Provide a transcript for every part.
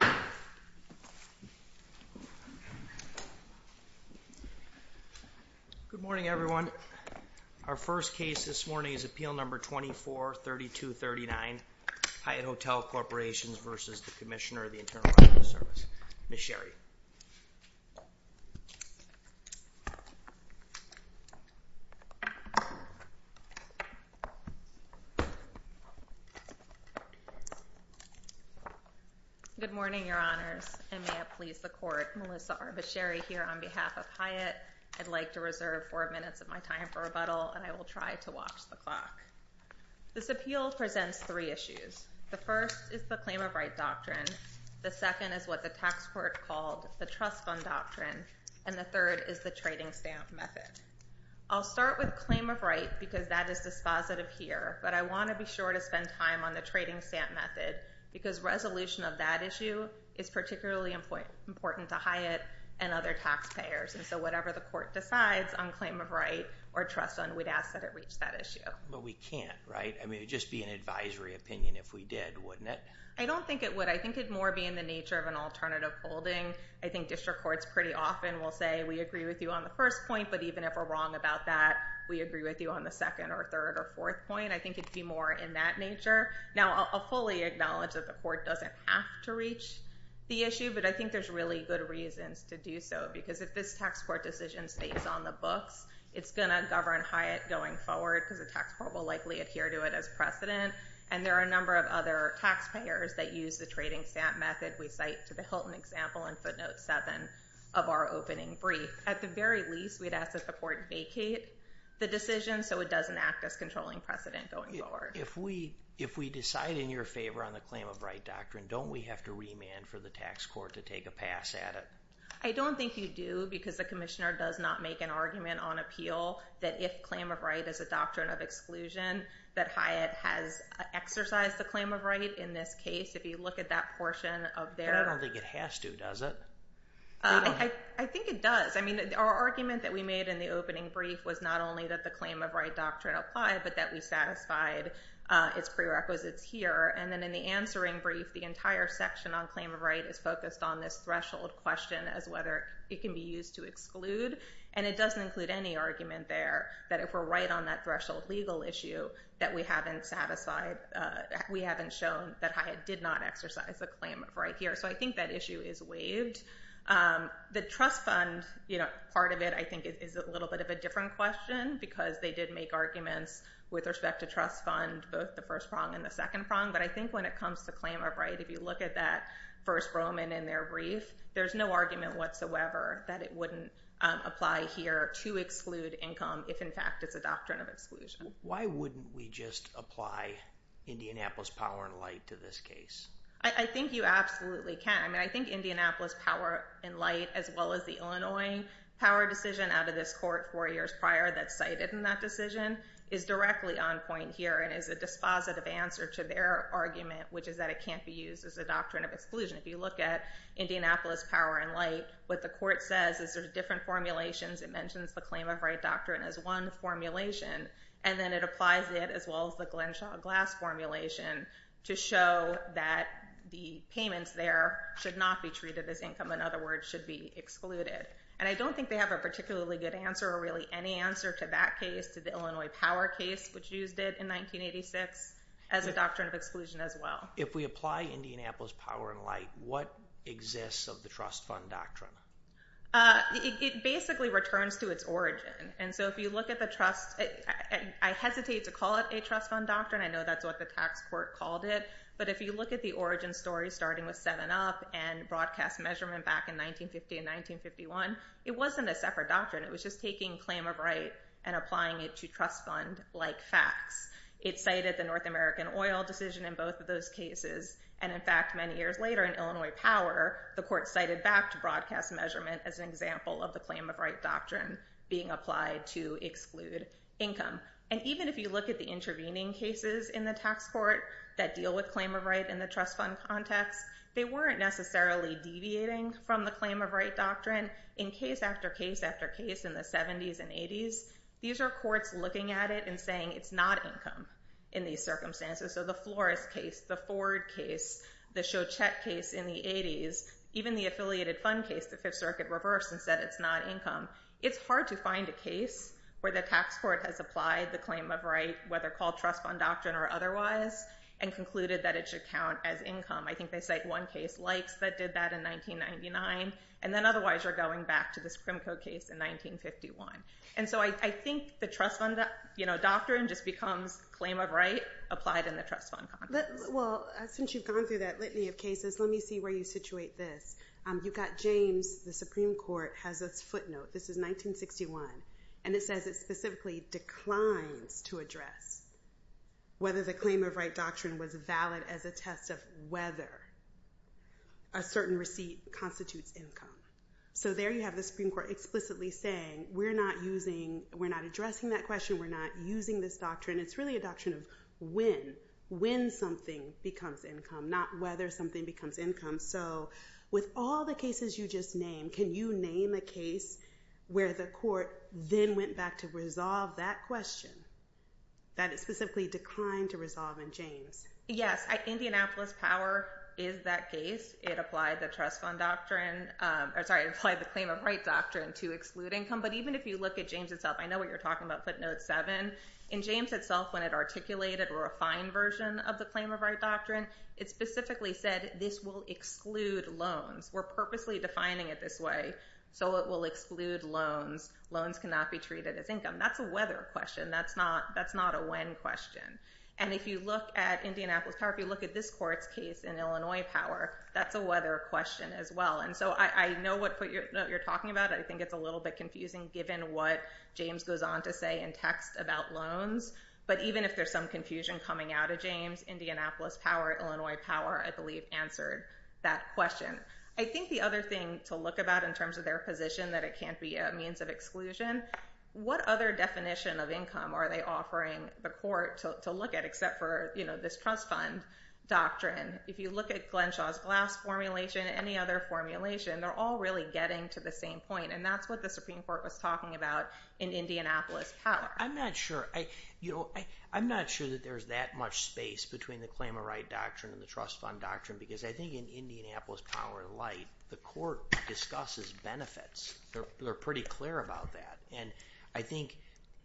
Good morning, everyone. Our first case this morning is Appeal No. 24-3239, Hyatt Hotel Corporations v. the Commissioner of the Internal Revenue Service. Ms. Sherry. Good morning, Your Honors, and may it please the Court, Melissa R. Basheri here on behalf of Hyatt. I'd like to reserve four minutes of my time for rebuttal, and I will try to watch the clock. This appeal presents three issues. The first is the claim of right doctrine. The second is what the tax court called the trust fund doctrine, and the third is the trading stamp method. I'll start with claim of right because that is dispositive here, but I want to be sure to spend time on the trading stamp method because resolution of that issue is particularly important to Hyatt and other taxpayers, and so whatever the court decides on claim of right or trust fund, we'd ask that it reach that issue. But we can't, right? I mean, it'd just be an advisory opinion if we did, wouldn't it? I don't think it would. I think it'd more be in the nature of an alternative holding. I think district courts pretty often will say, we agree with you on the first point, but even if we're wrong about that, we agree with you on the second or third or fourth point. I think it'd be more in that nature. Now, I'll fully acknowledge that the court doesn't have to reach the issue, but I think there's really good reasons to do so because if this tax court decision stays on the books, it's going to govern Hyatt going forward because the tax court will likely adhere to it as precedent, and there are a number of other taxpayers that use the trading stamp method we cite to the Hilton example in footnote seven of our opening brief. At the very least, we'd ask that the court vacate the decision so it doesn't act as controlling precedent going forward. If we decide in your favor on the claim of right doctrine, don't we have to remand for the tax court to take a pass at it? I don't think you do because the commissioner does not make an argument on appeal that if claim of right is a doctrine of exclusion, that Hyatt has exercised the claim of right in this case. If you look at that portion of their- I don't think it has to, does it? I think it does. Our argument that we made in the opening brief was not only that the claim of right doctrine applied, but that we satisfied its prerequisites here. Then in the answering brief, the entire section on claim of right is focused on this threshold question as whether it can be used to exclude. It doesn't include any argument there that if we're right on that threshold legal issue that we haven't satisfied, we haven't shown that Hyatt did not exercise the claim of right here. I think that issue is waived. The trust fund part of it, I think, is a little bit of a different question because they did make arguments with respect to trust fund, both the first prong and the second prong. I think when it comes to claim of right, if you look at that first Roman in their brief, there's no argument whatsoever that it wouldn't apply here to exclude income if in fact it's a doctrine of exclusion. Why wouldn't we just apply Indianapolis power and light to this case? I think you absolutely can. I think Indianapolis power and light, as well as the Illinois power decision out of this court four years prior that's cited in that decision, is directly on point here and is a dispositive answer to their argument, which is that it can't be used as a doctrine of exclusion. If you look at Indianapolis power and light, what the court says is there's different formulations. It mentions the claim of right doctrine as one formulation and then it applies it as well as the Glenshaw Glass formulation to show that the payments there should not be treated as income. In other words, should be excluded. I don't think they have a particularly good answer or really any answer to that case, to the Illinois power case, which used it in 1986 as a doctrine of exclusion as well. If we apply Indianapolis power and light, what exists of the trust fund doctrine? It basically returns to its origin. If you look at the trust... I hesitate to call it a trust fund doctrine. I know that's what the tax court called it, but if you look at the origin story starting with 7-Up and broadcast measurement back in 1950 and 1951, it wasn't a separate doctrine. It was just taking claim of right and applying it to trust fund like tax. It cited the North American oil decision in both of those cases. In fact, many years later in Illinois power, the court cited back to broadcast measurement as an example of the claim of right doctrine being applied to exclude income. Even if you look at the intervening cases in the tax court that deal with claim of right in the trust fund context, they weren't necessarily deviating from the claim of right doctrine in case after case after case in the 70s and 80s. These are courts looking at it and saying it's not income in these circumstances. The Flores case, the Ford case, the Shochet case in the 80s, even the affiliated fund case, the Fifth Circuit reversed and said it's not income. It's hard to find a case where the tax court has applied the claim of right, whether called trust fund doctrine or otherwise, and concluded that it should count as income. I think they cite one case, Likes, that did that in 1999, and then otherwise you're going back to this Crimco case in 1951. I think the trust fund doctrine just becomes claim of right applied in the trust fund context. Since you've gone through that litany of cases, let me see where you situate this. You've got James, the Supreme Court, has this footnote. This is 1961. It says it specifically declines to address whether the claim of right doctrine was valid as a test of whether a certain receipt constitutes income. There you have the Supreme Court explicitly saying, we're not addressing that question. We're not using this doctrine. It's really a doctrine of when, when something becomes income, not whether something becomes income. With all the cases you just named, can you name a case where the court then went back to resolve that question that it specifically declined to resolve in James? Yes. Indianapolis Power is that case. It applied the claim of right doctrine to exclude income. But even if you look at James itself, I know what you're talking about, footnote 7. In James itself, when it articulated a refined version of the claim of right doctrine, it specifically said, this will exclude loans. We're purposely defining it this way so it will exclude loans. Loans cannot be treated as income. That's a whether question. That's not a when question. If you look at Indianapolis Power, if you look at this court's case in Illinois Power, that's a whether question as well. I know what footnote you're talking about. I think it's a little bit confusing given what James goes on to say in text about loans. But even if there's some confusion coming out of James, Indianapolis Power, Illinois Power, I believe, answered that question. I think the other thing to look about in terms of their position that it can't be a means of exclusion, what other definition of income are they offering the court to look at except for this trust fund doctrine? If you look at Glenshaw's Glass formulation, any other formulation, they're all really getting to the same point. That's what the Supreme Court was talking about in Indianapolis Power. I'm not sure. I'm not sure that there's that much space between the claim of right doctrine and the trust fund doctrine because I think in Indianapolis Power light, the court discusses benefits. They're pretty clear about that. I think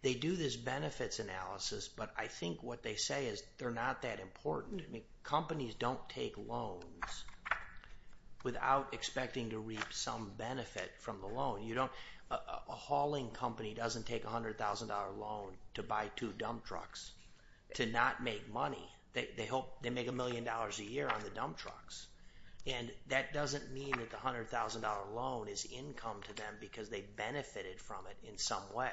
they do this benefits analysis, but I think what they say is they're not that important. Companies don't take loans without expecting to reap some benefit from the loan. A hauling company doesn't take $100,000 loan to buy two dump trucks to not make money. They make $1 million a year on the dump trucks. That doesn't mean that the $100,000 loan is income to them because they benefited from it in some way.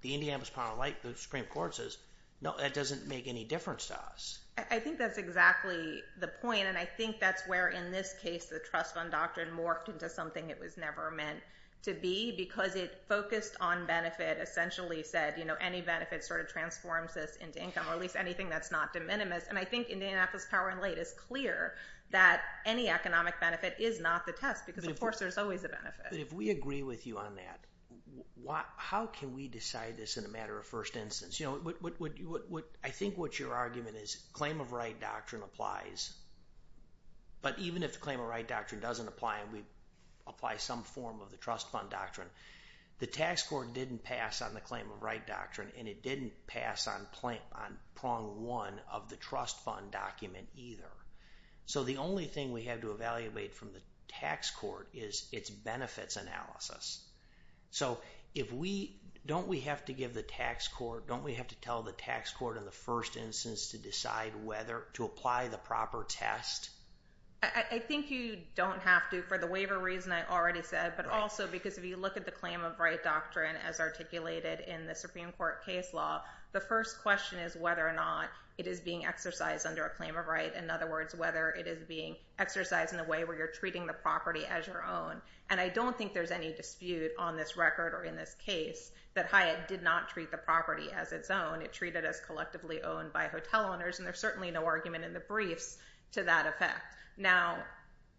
The Indianapolis Power and Light, the Supreme Court says, no, that doesn't make any difference to us. I think that's exactly the point. I think that's where in this case, the trust fund doctrine morphed into something it was never meant to be because it focused on benefit, essentially said, any benefit sort of transforms this into income or at least anything that's not de minimis. I think Indianapolis Power and Light is clear that any economic benefit is not the test because of course there's always a benefit. If we agree with you on that, how can we decide this in a matter of first instance? I think what your argument is, claim of right doctrine applies, but even if the claim of right doctrine doesn't apply and we apply some form of the trust fund doctrine, the tax court didn't pass on the claim of right either. The only thing we have to evaluate from the tax court is its benefits analysis. Don't we have to give the tax court, don't we have to tell the tax court in the first instance to decide whether to apply the proper test? I think you don't have to for the waiver reason I already said, but also because if you look at the claim of right doctrine as articulated in the Supreme Court case law, the first question is whether or not it is being exercised under a claim of right. In other words, whether it is being exercised in a way where you're treating the property as your own. I don't think there's any dispute on this record or in this case that Hyatt did not treat the property as its own. It treated as collectively owned by hotel owners and there's certainly no argument in the briefs to that effect. Now,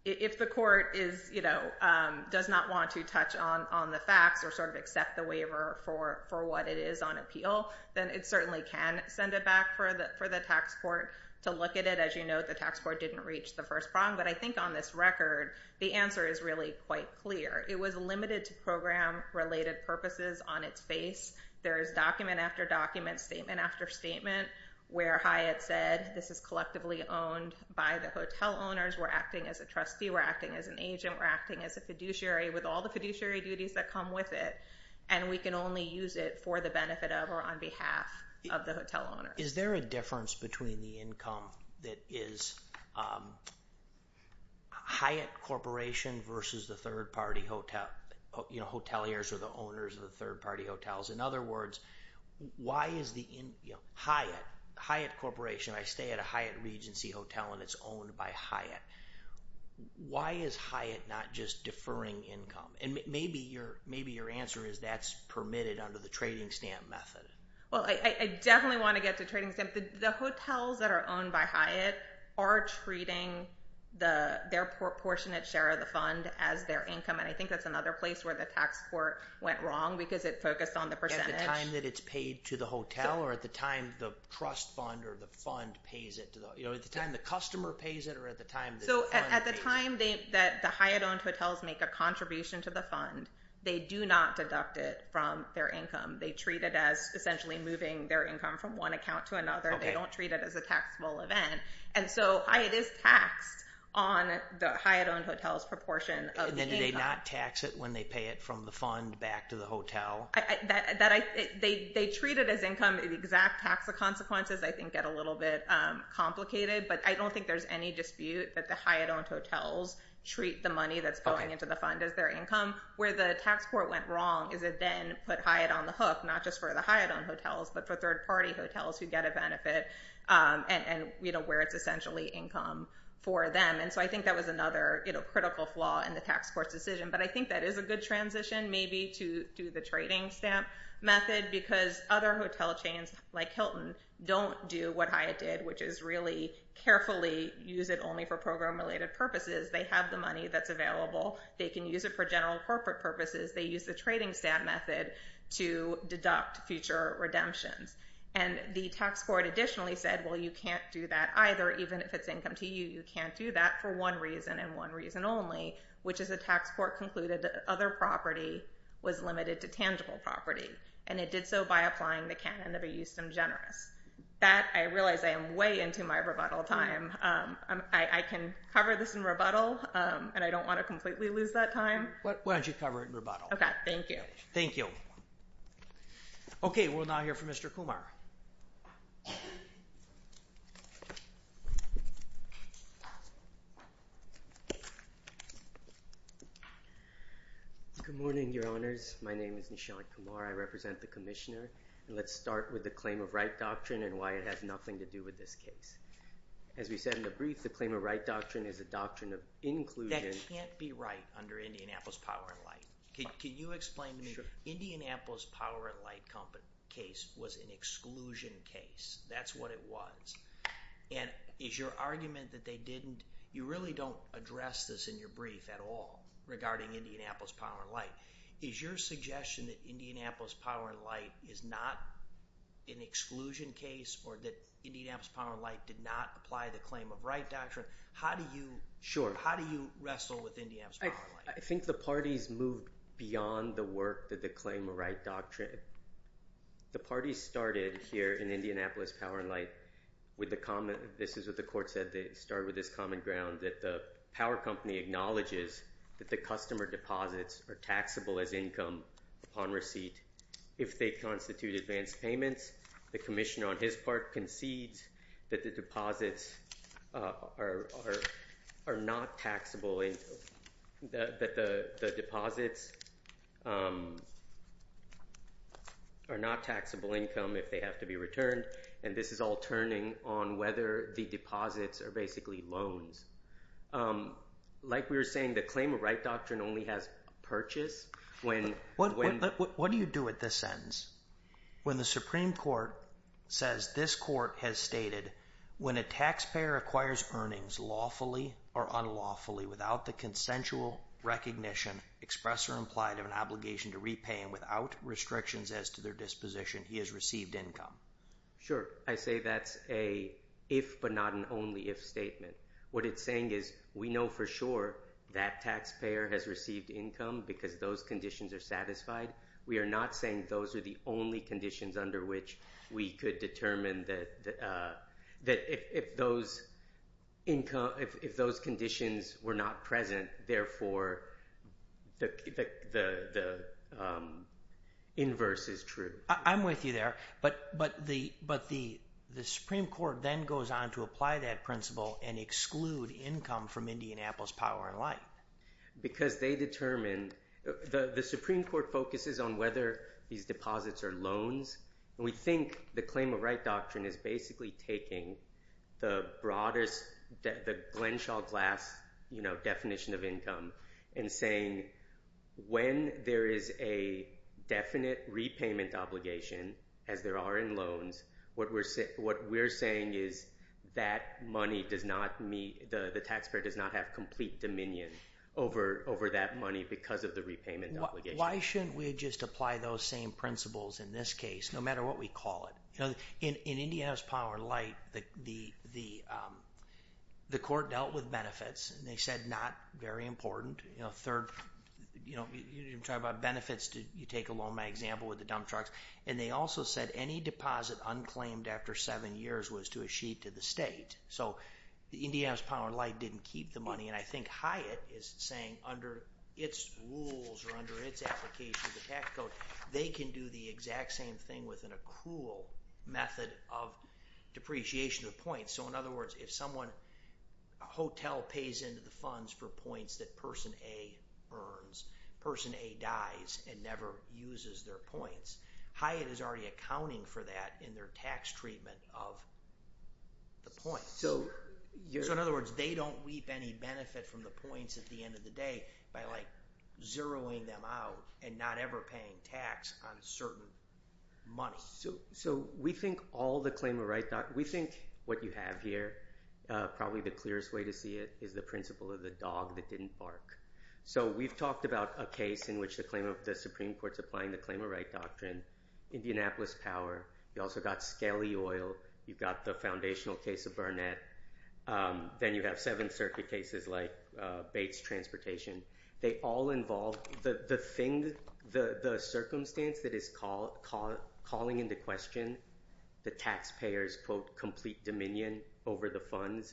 if the court does not want to touch on the facts or sort of accept the waiver for what it is on appeal, then it certainly can send it back for the tax court to look at it. As you know, the tax court didn't reach the first prong, but I think on this record, the answer is really quite clear. It was limited to program related purposes on its face. There is document after document, statement after statement where Hyatt said, this is collectively owned by the hotel owners. We're acting as a trustee, we're acting as an agent, we're acting as a fiduciary with all the fiduciary duties that come with it, and we can only use it for the benefit of or on behalf of the hotel owners. Is there a difference between the income that is Hyatt Corporation versus the third party hotel, you know, hoteliers or the owners of the third party hotels? In other words, why is the Hyatt, Hyatt Corporation, I stay at a Hyatt Regency hotel and it's owned by Hyatt. Why is Hyatt not just deferring income? And maybe your answer is that's permitted under the trading stamp method. Well, I definitely want to get to trading stamp. The hotels that are owned by Hyatt are treating their proportionate share of the fund as their income, and I think that's another place where the tax court went wrong because it focused on the percentage. At the time that it's paid to the hotel or at the time the trust fund or the fund pays it? You know, at the time the customer pays it or at the time the fund pays it? So, at the time that the Hyatt-owned hotels make a contribution to the fund, they do not deduct it from their income. They treat it as essentially moving their income from one account to another. They don't treat it as a taxable event. And so, Hyatt is taxed on the Hyatt-owned hotel's proportion of the income. And then do they not tax it when they pay it from the fund back to the hotel? They treat it as income. The exact tax consequences, I think, get a little bit complicated, but I don't think there's any dispute that the Hyatt-owned hotels treat the money that's going into the fund as their income. Where the tax court went wrong is it then put Hyatt on the hook, not just for the Hyatt-owned hotels, but for third-party hotels who get a benefit and, you know, where it's essentially income for them. And so, I think that was another, you know, critical flaw in the tax court's decision. But I think that is a good transition maybe to do the trading stamp method because other hotel chains like Hilton don't do what Hyatt did, which is really carefully use it only for program-related purposes. They have the money that's available. They can use it for general corporate purposes. They use the trading stamp method to deduct future redemptions. And the tax court additionally said, well, you can't do that either, even if it's income to you. You can't do that for one reason and one reason only, which is the tax court concluded that other property was limited to tangible property, and it did so by applying the canon of a eustem generis. That I realize I am way into my rebuttal time. I can cover this in rebuttal, and I don't want to completely lose that time. Why don't you cover it in rebuttal? Okay, thank you. Thank you. Okay, we'll now hear from Mr. Kumar. Good morning, your honors. My name is Nishant Kumar. I represent the commissioner, and let's start with the claim of right doctrine and why it has nothing to do with this case. As we said in the brief, the claim of right doctrine is a doctrine of inclusion. That can't be right under Indianapolis Power and Light. Can you explain to me, Indianapolis Power and Light case was an exclusion case. That's what it was. Is your argument that they didn't... You really don't address this in your brief at all, regarding Indianapolis Power and Light. Is your suggestion that Indianapolis Power and Light is not an exclusion case or that Indianapolis Power and Light did not apply the claim of right doctrine? How do you- Sure. How do you wrestle with Indianapolis Power and Light? I think the parties moved beyond the work that the claim of right doctrine. The parties started here in Indianapolis Power and Light with the common... This is what the court said. They started with this common ground that the power company acknowledges that the customer deposits are taxable as income upon receipt. If they constitute advanced payments, the commissioner on his part concedes that the deposits are not taxable income if they have to be returned. This is all turning on whether the deposits are basically loans. Like we were saying, the claim of right doctrine only has purchase when- What do you do at this sentence? When the Supreme Court says, this court has stated, when a taxpayer acquires earnings lawfully or unlawfully without the consensual recognition expressed or implied of an obligation to repay and without restrictions as to their disposition, he has received income. Sure. I say that's a if but not an only if statement. What it's saying is we know for sure that taxpayer has received income because those conditions are satisfied. We are not saying those are the only conditions under which we could determine that if those conditions were not present, therefore, the inverse is true. I'm with you there. The Supreme Court then goes on to apply that principle and exclude the income from Indianapolis Power and Light. Because they determined, the Supreme Court focuses on whether these deposits are loans. We think the claim of right doctrine is basically taking the broadest, the Glenshaw Glass definition of income and saying when there is a definite repayment obligation as there are in loans, what we're saying is that money does not meet, the taxpayer does not have complete dominion over that money because of the repayment obligation. Why shouldn't we just apply those same principles in this case, no matter what we call it? In Indianapolis Power and Light, the court dealt with benefits and they said not very important. Third, you talk about benefits, you take along my example with the dump trucks. They also said any deposit unclaimed after seven years was to a sheet to the state. So the Indianapolis Power and Light didn't keep the money and I think Hyatt is saying under its rules or under its application of the PAC code, they can do the exact same thing with an accrual method of depreciation of points. So in other words, if someone, a hotel pays into the funds for points that person A earns, person A dies and never uses their points, Hyatt is already accounting for that in their tax treatment of the points. So in other words, they don't weep any benefit from the points at the end of the day by like zeroing them out and not ever paying tax on certain money. So we think all the claimant rights, we think what you have here, probably the clearest way to see it is the principle of the dog that didn't bark. So we've talked about a case in which the Supreme Court's applying the claimant right doctrine, Indianapolis Power, you also got Scali Oil, you've got the foundational case of Burnett, then you have Seventh Circuit cases like Bates Transportation. They all involve the circumstance that is calling into question the taxpayer's, quote, complete dominion over the funds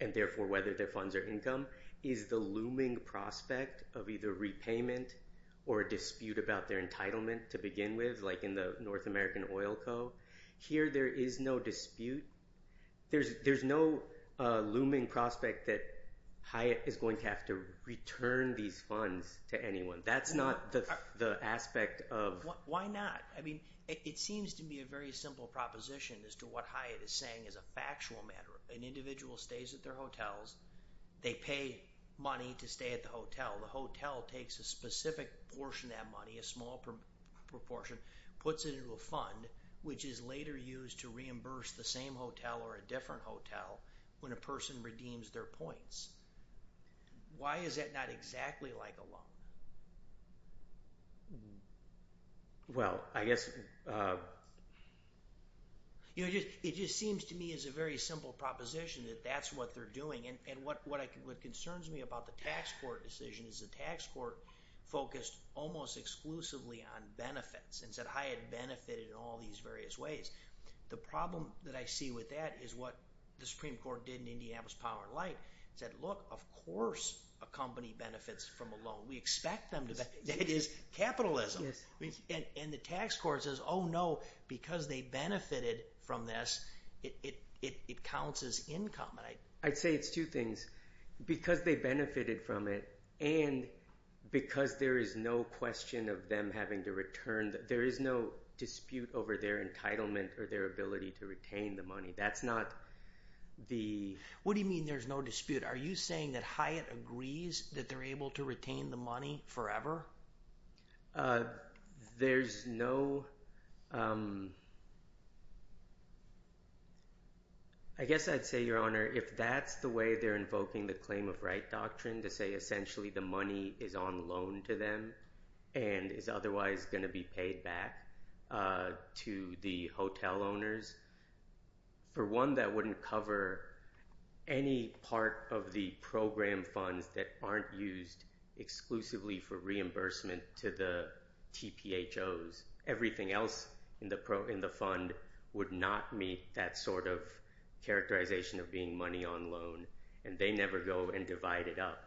and therefore whether their funds are income is the looming prospect of either repayment or dispute about their entitlement to begin with, like in the North American Oil Co. Here, there is no dispute. There's no looming prospect that Hyatt is going to have to return these funds to anyone. That's not the aspect of... Why not? I mean, it seems to be a very simple proposition as to what Hyatt is saying is a factual matter. An individual stays at their hotels, they pay money to stay at the hotel. The hotel takes a specific portion of that money, a small proportion, puts it into a fund, which is later used to reimburse the same hotel or a different hotel when a person redeems their points. Why is that not exactly like a loan? Well, I guess... It just seems to me as a very simple proposition that that's what they're doing. What concerns me about the tax court decision is the tax court focused almost exclusively on benefits and said Hyatt benefited in all these various ways. The problem that I see with that is what the Supreme Court did in Indiana's power of light. It said, look, of course a company benefits from a loan. We expect them to benefit. It is capitalism. And the tax court says, oh no, because they benefited from this, it counts as income. I'd say it's two things. Because they benefited from it and because there is no question of them having to return... There is no dispute over their entitlement or their ability to retain the money. That's not the... What do you mean there's no dispute? Are you saying that Hyatt agrees that they're able to retain the money forever? There's no... I guess I'd say, Your Honor, if that's the way they're invoking the claim of right doctrine to say essentially the money is on loan to them and is otherwise going to be paid back to the hotel owners, for one, that wouldn't cover any part of the program funds that aren't used exclusively for reimbursement to the TPHOs. Everything else in the fund would not meet that sort of characterization of being money on loan and they never go and divide it up.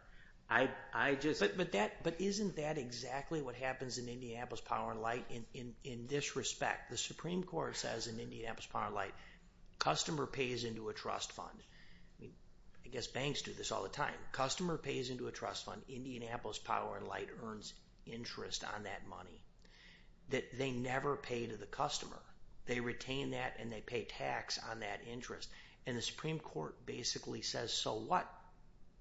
But isn't that exactly what happens in Indianapolis Power & Light in this respect? The Supreme Court says in Indianapolis Power & Light, customer pays into a trust fund. I guess banks do this all the time. Customer pays into a trust fund. Indianapolis Power & Light earns interest on that money that they never pay to the customer. They retain that and they pay tax on that interest. And the Supreme Court basically says, so what?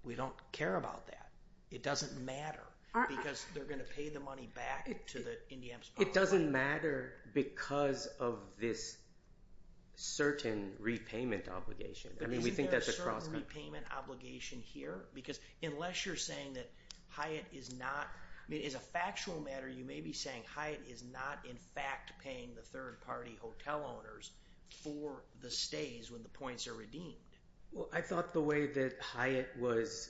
We don't care about that. It doesn't matter because they're going to pay the money back to the Indiana Power & Light. It doesn't matter because of this certain repayment obligation. I mean, we think that's a crosscut. But isn't there a certain repayment obligation here? Because unless you're saying that Hyatt is not... I mean, as a factual matter, you may be saying Hyatt is not in fact paying the third party hotel owners for the stays when the points are redeemed. I thought the way that Hyatt was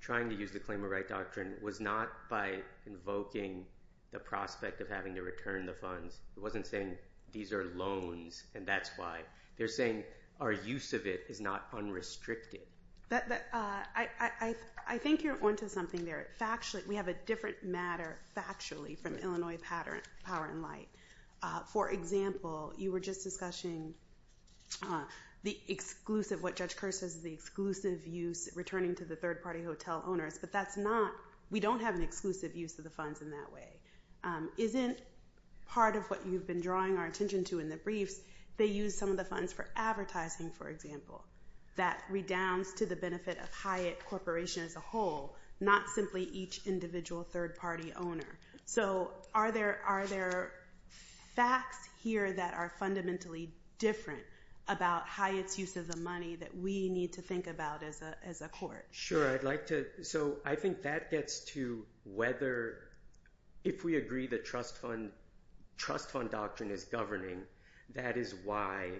trying to use the claim of right doctrine was not by invoking the prospect of having to return the funds. It wasn't saying these are loans and that's why. They're saying our use of it is not unrestricted. I think you're onto something there. Factually, we have a different matter factually from Illinois Power & Light. For example, you were just discussing the exclusive, what Judge Kerr says is the exclusive use returning to the third party hotel owners, but that's not... We don't have an exclusive use of the funds in that way. Isn't part of what you've been drawing our attention to in the briefs, they use some of the funds for advertising, for example, that redounds to the benefit of Hyatt Corporation as a whole, not simply each individual third party owner. Are there facts here that are fundamentally different about Hyatt's use of the money that we need to think about as a court? Sure. I think that gets to whether if we agree the trust fund doctrine is governing, that is why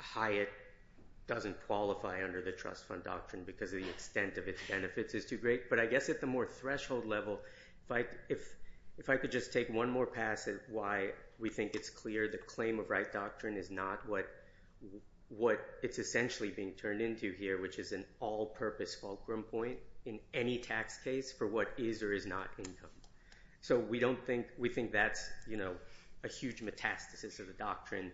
Hyatt doesn't qualify under the trust fund doctrine because of the extent of its threshold level. If I could just take one more pass at why we think it's clear the claim of right doctrine is not what it's essentially being turned into here, which is an all purpose fulcrum point in any tax case for what is or is not income. We think that's a huge metastasis of the doctrine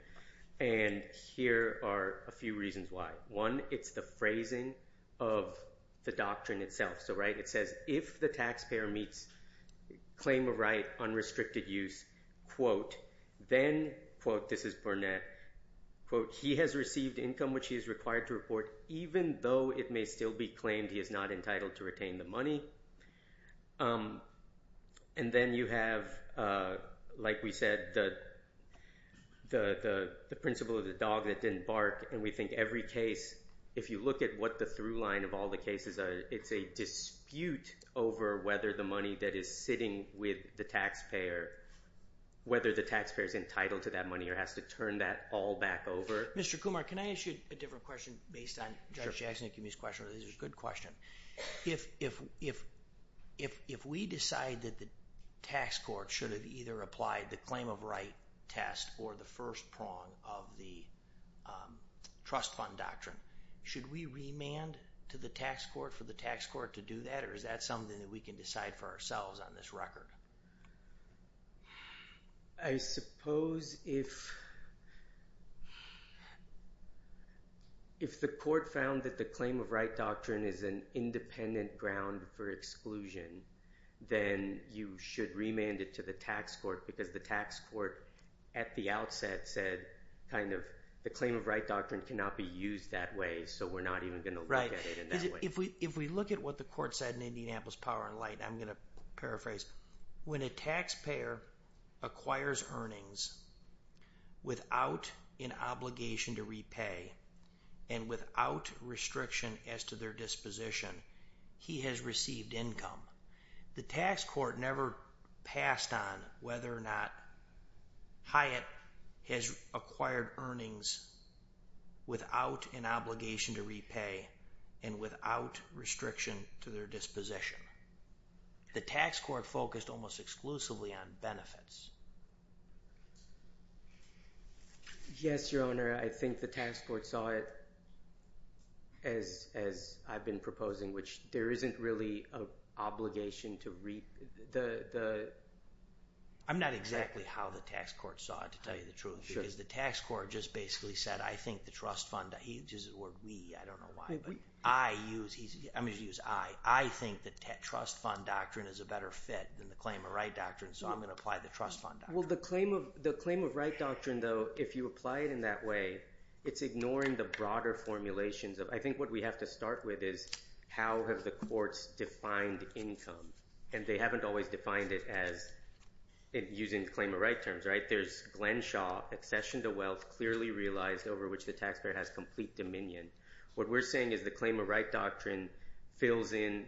and here are a few reasons why. One, it's the phrasing of the doctrine itself. It says, if the taxpayer meets claim of right unrestricted use, then, this is Burnett, he has received income which he is required to report even though it may still be claimed he is not entitled to retain the money. Then you have, like we said, the principle of the dog that didn't bark and we think every case, if you look at what the through line of all cases, it's a dispute over whether the money that is sitting with the taxpayer, whether the taxpayer is entitled to that money or has to turn that all back over. Mr. Kumar, can I ask you a different question based on Judge Jackson's question? It's a good question. If we decide that the tax court should have either applied the claim of right test or the first prong of the trust fund doctrine, should we remand to the tax court for the tax court to do that or is that something that we can decide for ourselves on this record? I suppose if the court found that the claim of right doctrine is an independent ground for exclusion, then you should remand it to the tax court because the tax court at the outset said the claim of right doctrine cannot be used that way so we're not even going to look at it that way. If we look at what the court said in Indianapolis Power and Light, I'm going to paraphrase, when a taxpayer acquires earnings without an obligation to repay and without restriction as to their disposition, he has received income. The tax court never passed on whether or not Hyatt has acquired earnings without an obligation to repay and without restriction to their disposition. The tax court focused almost exclusively on benefits. Yes, Your Honor, I think the tax court saw it as I've been proposing, which there isn't really an obligation to reap. I'm not exactly how the tax court saw it, to tell you the truth, because the tax court just basically said, I think the trust fund, he uses the word we, I don't know why, but I use, I'm going to use I, I think the trust fund doctrine is a better fit than the claim of right doctrine, so I'm going to apply the trust fund doctrine. Well, the claim of right doctrine, though, if you apply it in that way, it's ignoring the broader formulations of, I think what we have to start with is how have the courts defined income, and they haven't always defined it as using claim of right terms, right? There's Glen Shaw, accession to wealth clearly realized over which the taxpayer has complete dominion. What we're saying is the claim of right doctrine fills in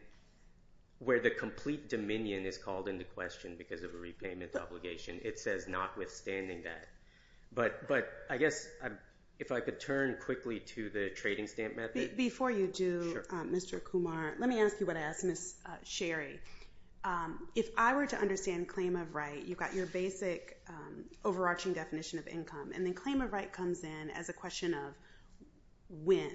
where the complete dominion is called into question because of a repayment obligation. It says notwithstanding that, but I guess if I could turn quickly to the trading stamp method. Before you do, Mr. Kumar, let me ask you what I asked Ms. Sherry. If I were to understand claim of right, you've got your basic overarching definition of income, and then claim of right comes in as a question of when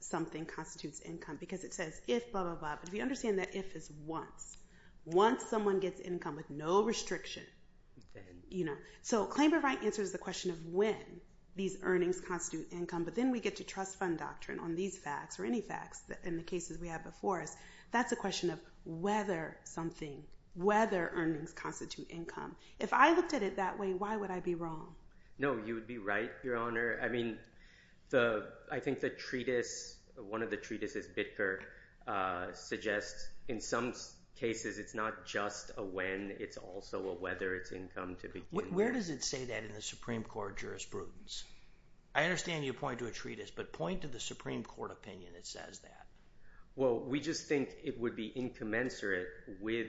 something constitutes income because it says if, blah, blah, blah, but if you understand that if is once. Once someone gets income with no restriction. So claim of right answers the question of when these earnings constitute income, but then we get to trust fund doctrine on these facts or any facts in the cases we have before us. That's a question of whether something, whether earnings constitute income. If I looked at it that way, why would I be wrong? No, you would be right, Your Honor. I mean, I think the treatise, one of the treatises, suggests in some cases it's not just a when, it's also a whether it's income to begin with. Where does it say that in the Supreme Court jurisprudence? I understand you point to a treatise, but point to the Supreme Court opinion that says that. Well, we just think it would be incommensurate with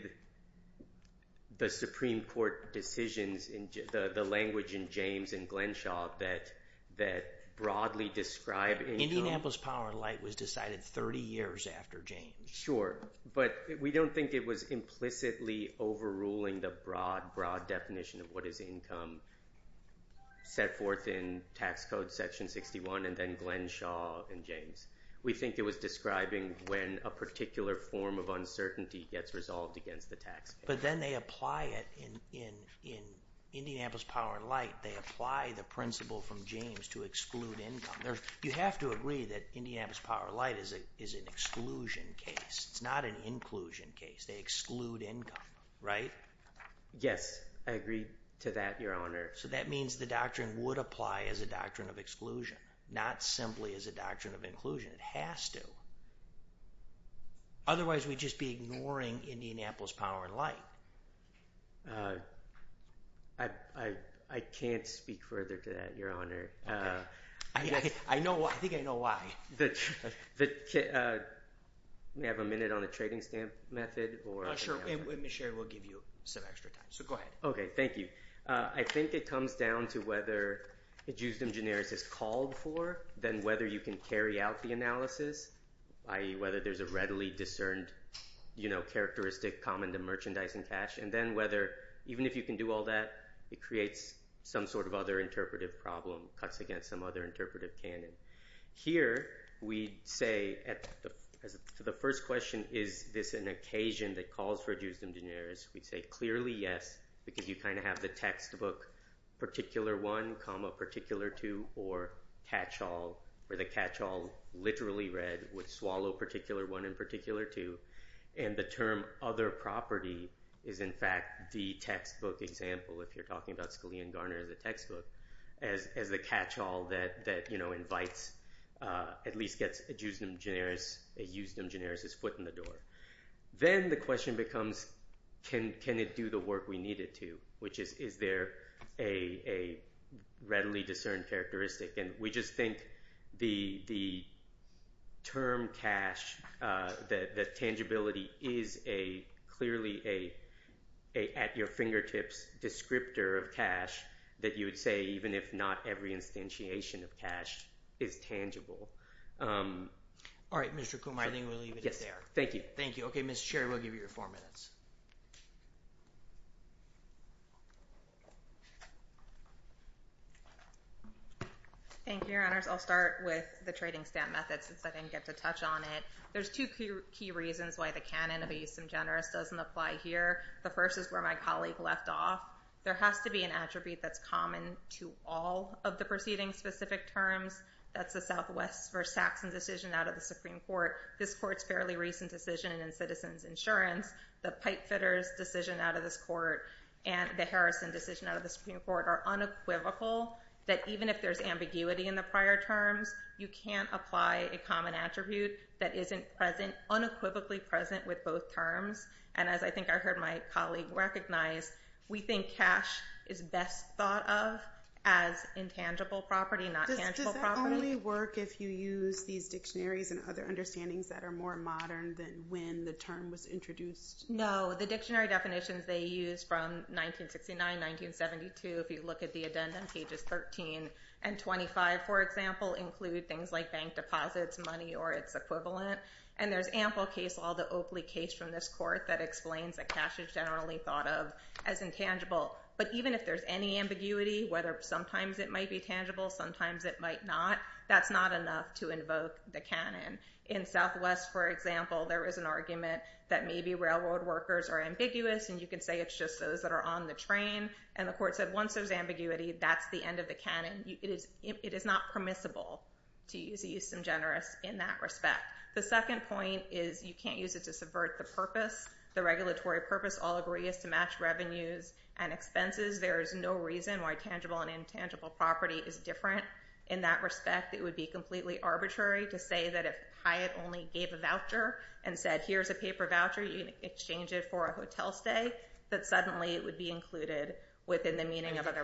the Supreme Court decisions in the language in James and Glenshaw that broadly describe income. Indianapolis Power and Light was decided 30 years after James. Sure, but we don't think it was implicitly overruling the broad, broad definition of what is income set forth in tax code section 61 and then Glenshaw and James. We think it was describing when a particular form of uncertainty gets resolved against the tax. But then they apply it in Indianapolis Power and Light. They apply the principle from James to exclude income. You have to agree that Indianapolis Power and Light is an exclusion case. It's not an inclusion case. They exclude income, right? Yes, I agree to that, Your Honor. So that means the doctrine would apply as a doctrine of exclusion, not simply as a doctrine of inclusion. It has to. Otherwise, we'd just be ignoring Indianapolis Power and Light. I can't speak further to that, Your Honor. I think I know why. May I have a minute on the trading stamp method? Sure, and Ms. Sherry will give you some extra time. So go ahead. Okay, thank you. I think it comes down to whether the justum generis is called for than whether you can carry out the analysis, i.e. whether there's a readily discerned characteristic common to merchandise and cash, and then whether, even if you can do all that, it creates some sort of other interpretive problem, cuts against some other interpretive canon. Here, we'd say to the first question, is this an occasion that calls for justum generis? We'd say clearly yes, because you kind of have the textbook particular one, particular two, or catch all, where the catch all literally read would swallow particular one and particular two, and the other property is, in fact, the textbook example, if you're talking about Scalia and Garner in the textbook, as the catch all that invites, at least gets a justum generis, a justum generis is foot in the door. Then the question becomes, can it do the work we need it to, which is, is there a readily discerned characteristic? And we just think the term cash, the tangibility is clearly at your fingertips descriptor of cash that you would say even if not every instantiation of cash is tangible. All right, Mr. Kuhlmeier, I think we'll leave it there. Thank you. Thank you. Okay, Ms. Sherry, we'll give you your four minutes. Thank you, your honors. I'll start with the trading stamp method since I didn't get to touch on it. There's two key reasons why the canon of a justum generis doesn't apply here. The first is where my colleague left off. There has to be an attribute that's common to all of the preceding specific terms. That's the Southwest v. Saxon decision out of the Supreme Court. This court's fairly recent decision in Citizens Insurance, the Pipefitters decision out of this court, and the Harrison decision out of the Supreme Court are unequivocal that even if there's in the prior terms, you can't apply a common attribute that isn't present, unequivocally present with both terms. And as I think I heard my colleague recognize, we think cash is best thought of as intangible property, not tangible property. Does that only work if you use these dictionaries and other understandings that are more modern than when the term was introduced? No, the dictionary definitions they use from 1969, 1972, if you look at the addendum, pages 13 and 25, for example, include things like bank deposits, money, or its equivalent. And there's ample case law, the Oakley case from this court that explains that cash is generally thought of as intangible. But even if there's any ambiguity, whether sometimes it might be tangible, sometimes it might not, that's not enough to invoke the canon. In Southwest, for example, there is an argument that maybe railroad workers are ambiguous, and you can say it's just those that are on the train. And the court said, once there's ambiguity, that's the end of the canon. It is not permissible to use the use of generous in that respect. The second point is you can't use it to subvert the purpose. The regulatory purpose, all agree, is to match revenues and expenses. There is no reason why tangible and intangible property is different in that respect. It would be completely arbitrary to say that if Hyatt only gave a voucher and said, here's a paper voucher, you can exchange it for a hotel stay, that suddenly it would be included within the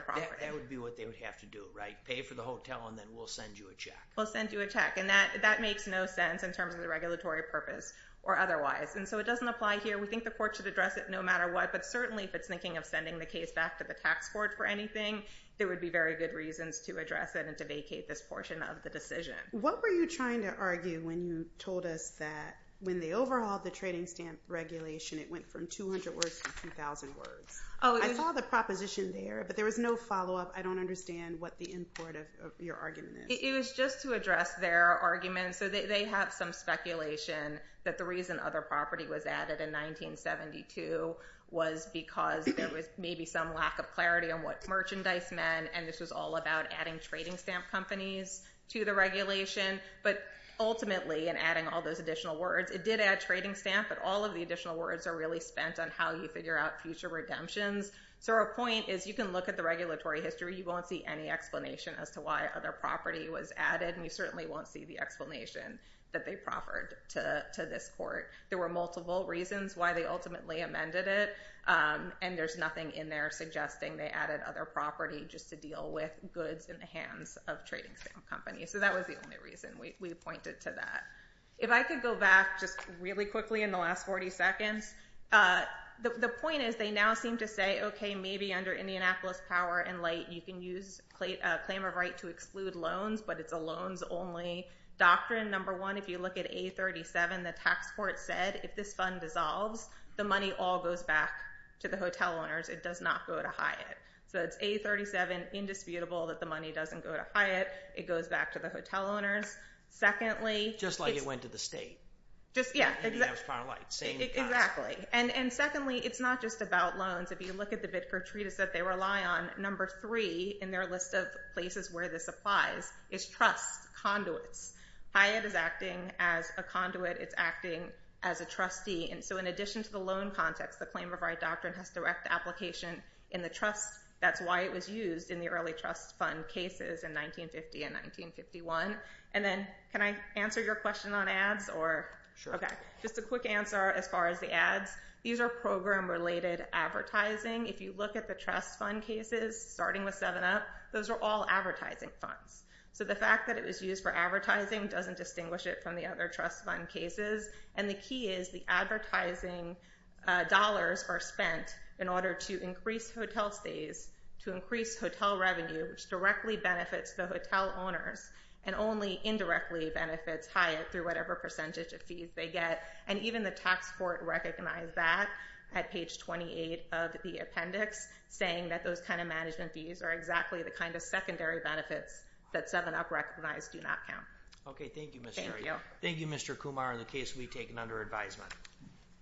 property. That would be what they would have to do, right? Pay for the hotel and then we'll send you a check. We'll send you a check. And that makes no sense in terms of the regulatory purpose or otherwise. And so it doesn't apply here. We think the court should address it no matter what, but certainly if it's thinking of sending the case back to the tax court for anything, there would be very good reasons to address it and to vacate this portion of the decision. What were you trying to argue when you told us that when they overhauled the trading stamp regulation, it went from 200 words to 2,000 words? I saw the proposition there, but there was no follow-up. I don't understand what the import of your argument is. It was just to address their argument. So they have some speculation that the reason other property was added in 1972 was because there was maybe some lack of clarity on what merchandise meant. And this was all about adding trading stamp companies to the regulation. But ultimately, and adding all those additional words, it did add trading stamp, but all of the additional words are really spent on how you figure out future redemptions. So our point is you can look at the regulatory history. You won't see any explanation as to why other property was added. And you certainly won't see the explanation that they proffered to this court. There were multiple reasons why they ultimately amended it. And there's nothing in there suggesting they added other property just to deal with goods in the hands of trading stamp companies. So that was the only reason we pointed to that. If I could go back just really quickly in the last 40 seconds, the point is they now seem to say, OK, maybe under Indianapolis power and light, you can use a claim of right to exclude loans, but it's a loans-only doctrine. Number one, if you look at A37, the tax court said, if this fund dissolves, the money all goes back to the hotel owners. It does not go to Hyatt. So it's A37, indisputable that the money doesn't go to Hyatt. It goes back to the hotel owners. Just like it went to the state. Exactly. And secondly, it's not just about loans. If you look at the Bitford Treatise that they rely on, number three in their list of places where this applies is trust conduits. Hyatt is acting as a conduit. It's acting as a trustee. And so in addition to the loan context, the claim of right doctrine has direct application in the trust. That's why it was used in the early trust fund cases in 1950 and 1951. And then can I answer your question on ads or? Sure. OK. Just a quick answer as far as the ads. These are program-related advertising. If you look at the trust fund cases starting with 7-Up, those are all advertising funds. So the fact that it was used for advertising doesn't distinguish it from the other trust fund cases. And the key is the advertising dollars are spent in order to increase hotel stays, to increase hotel revenue, which directly benefits the hotel owners and only indirectly benefits Hyatt through whatever percentage of fees they get. And even the tax court recognized that at page 28 of the appendix, saying that those kind of management fees are exactly the kind of secondary benefits that 7-Up recognized do not count. OK. Thank you, thank you, Mr. Kumar, in the case we've taken under advisement.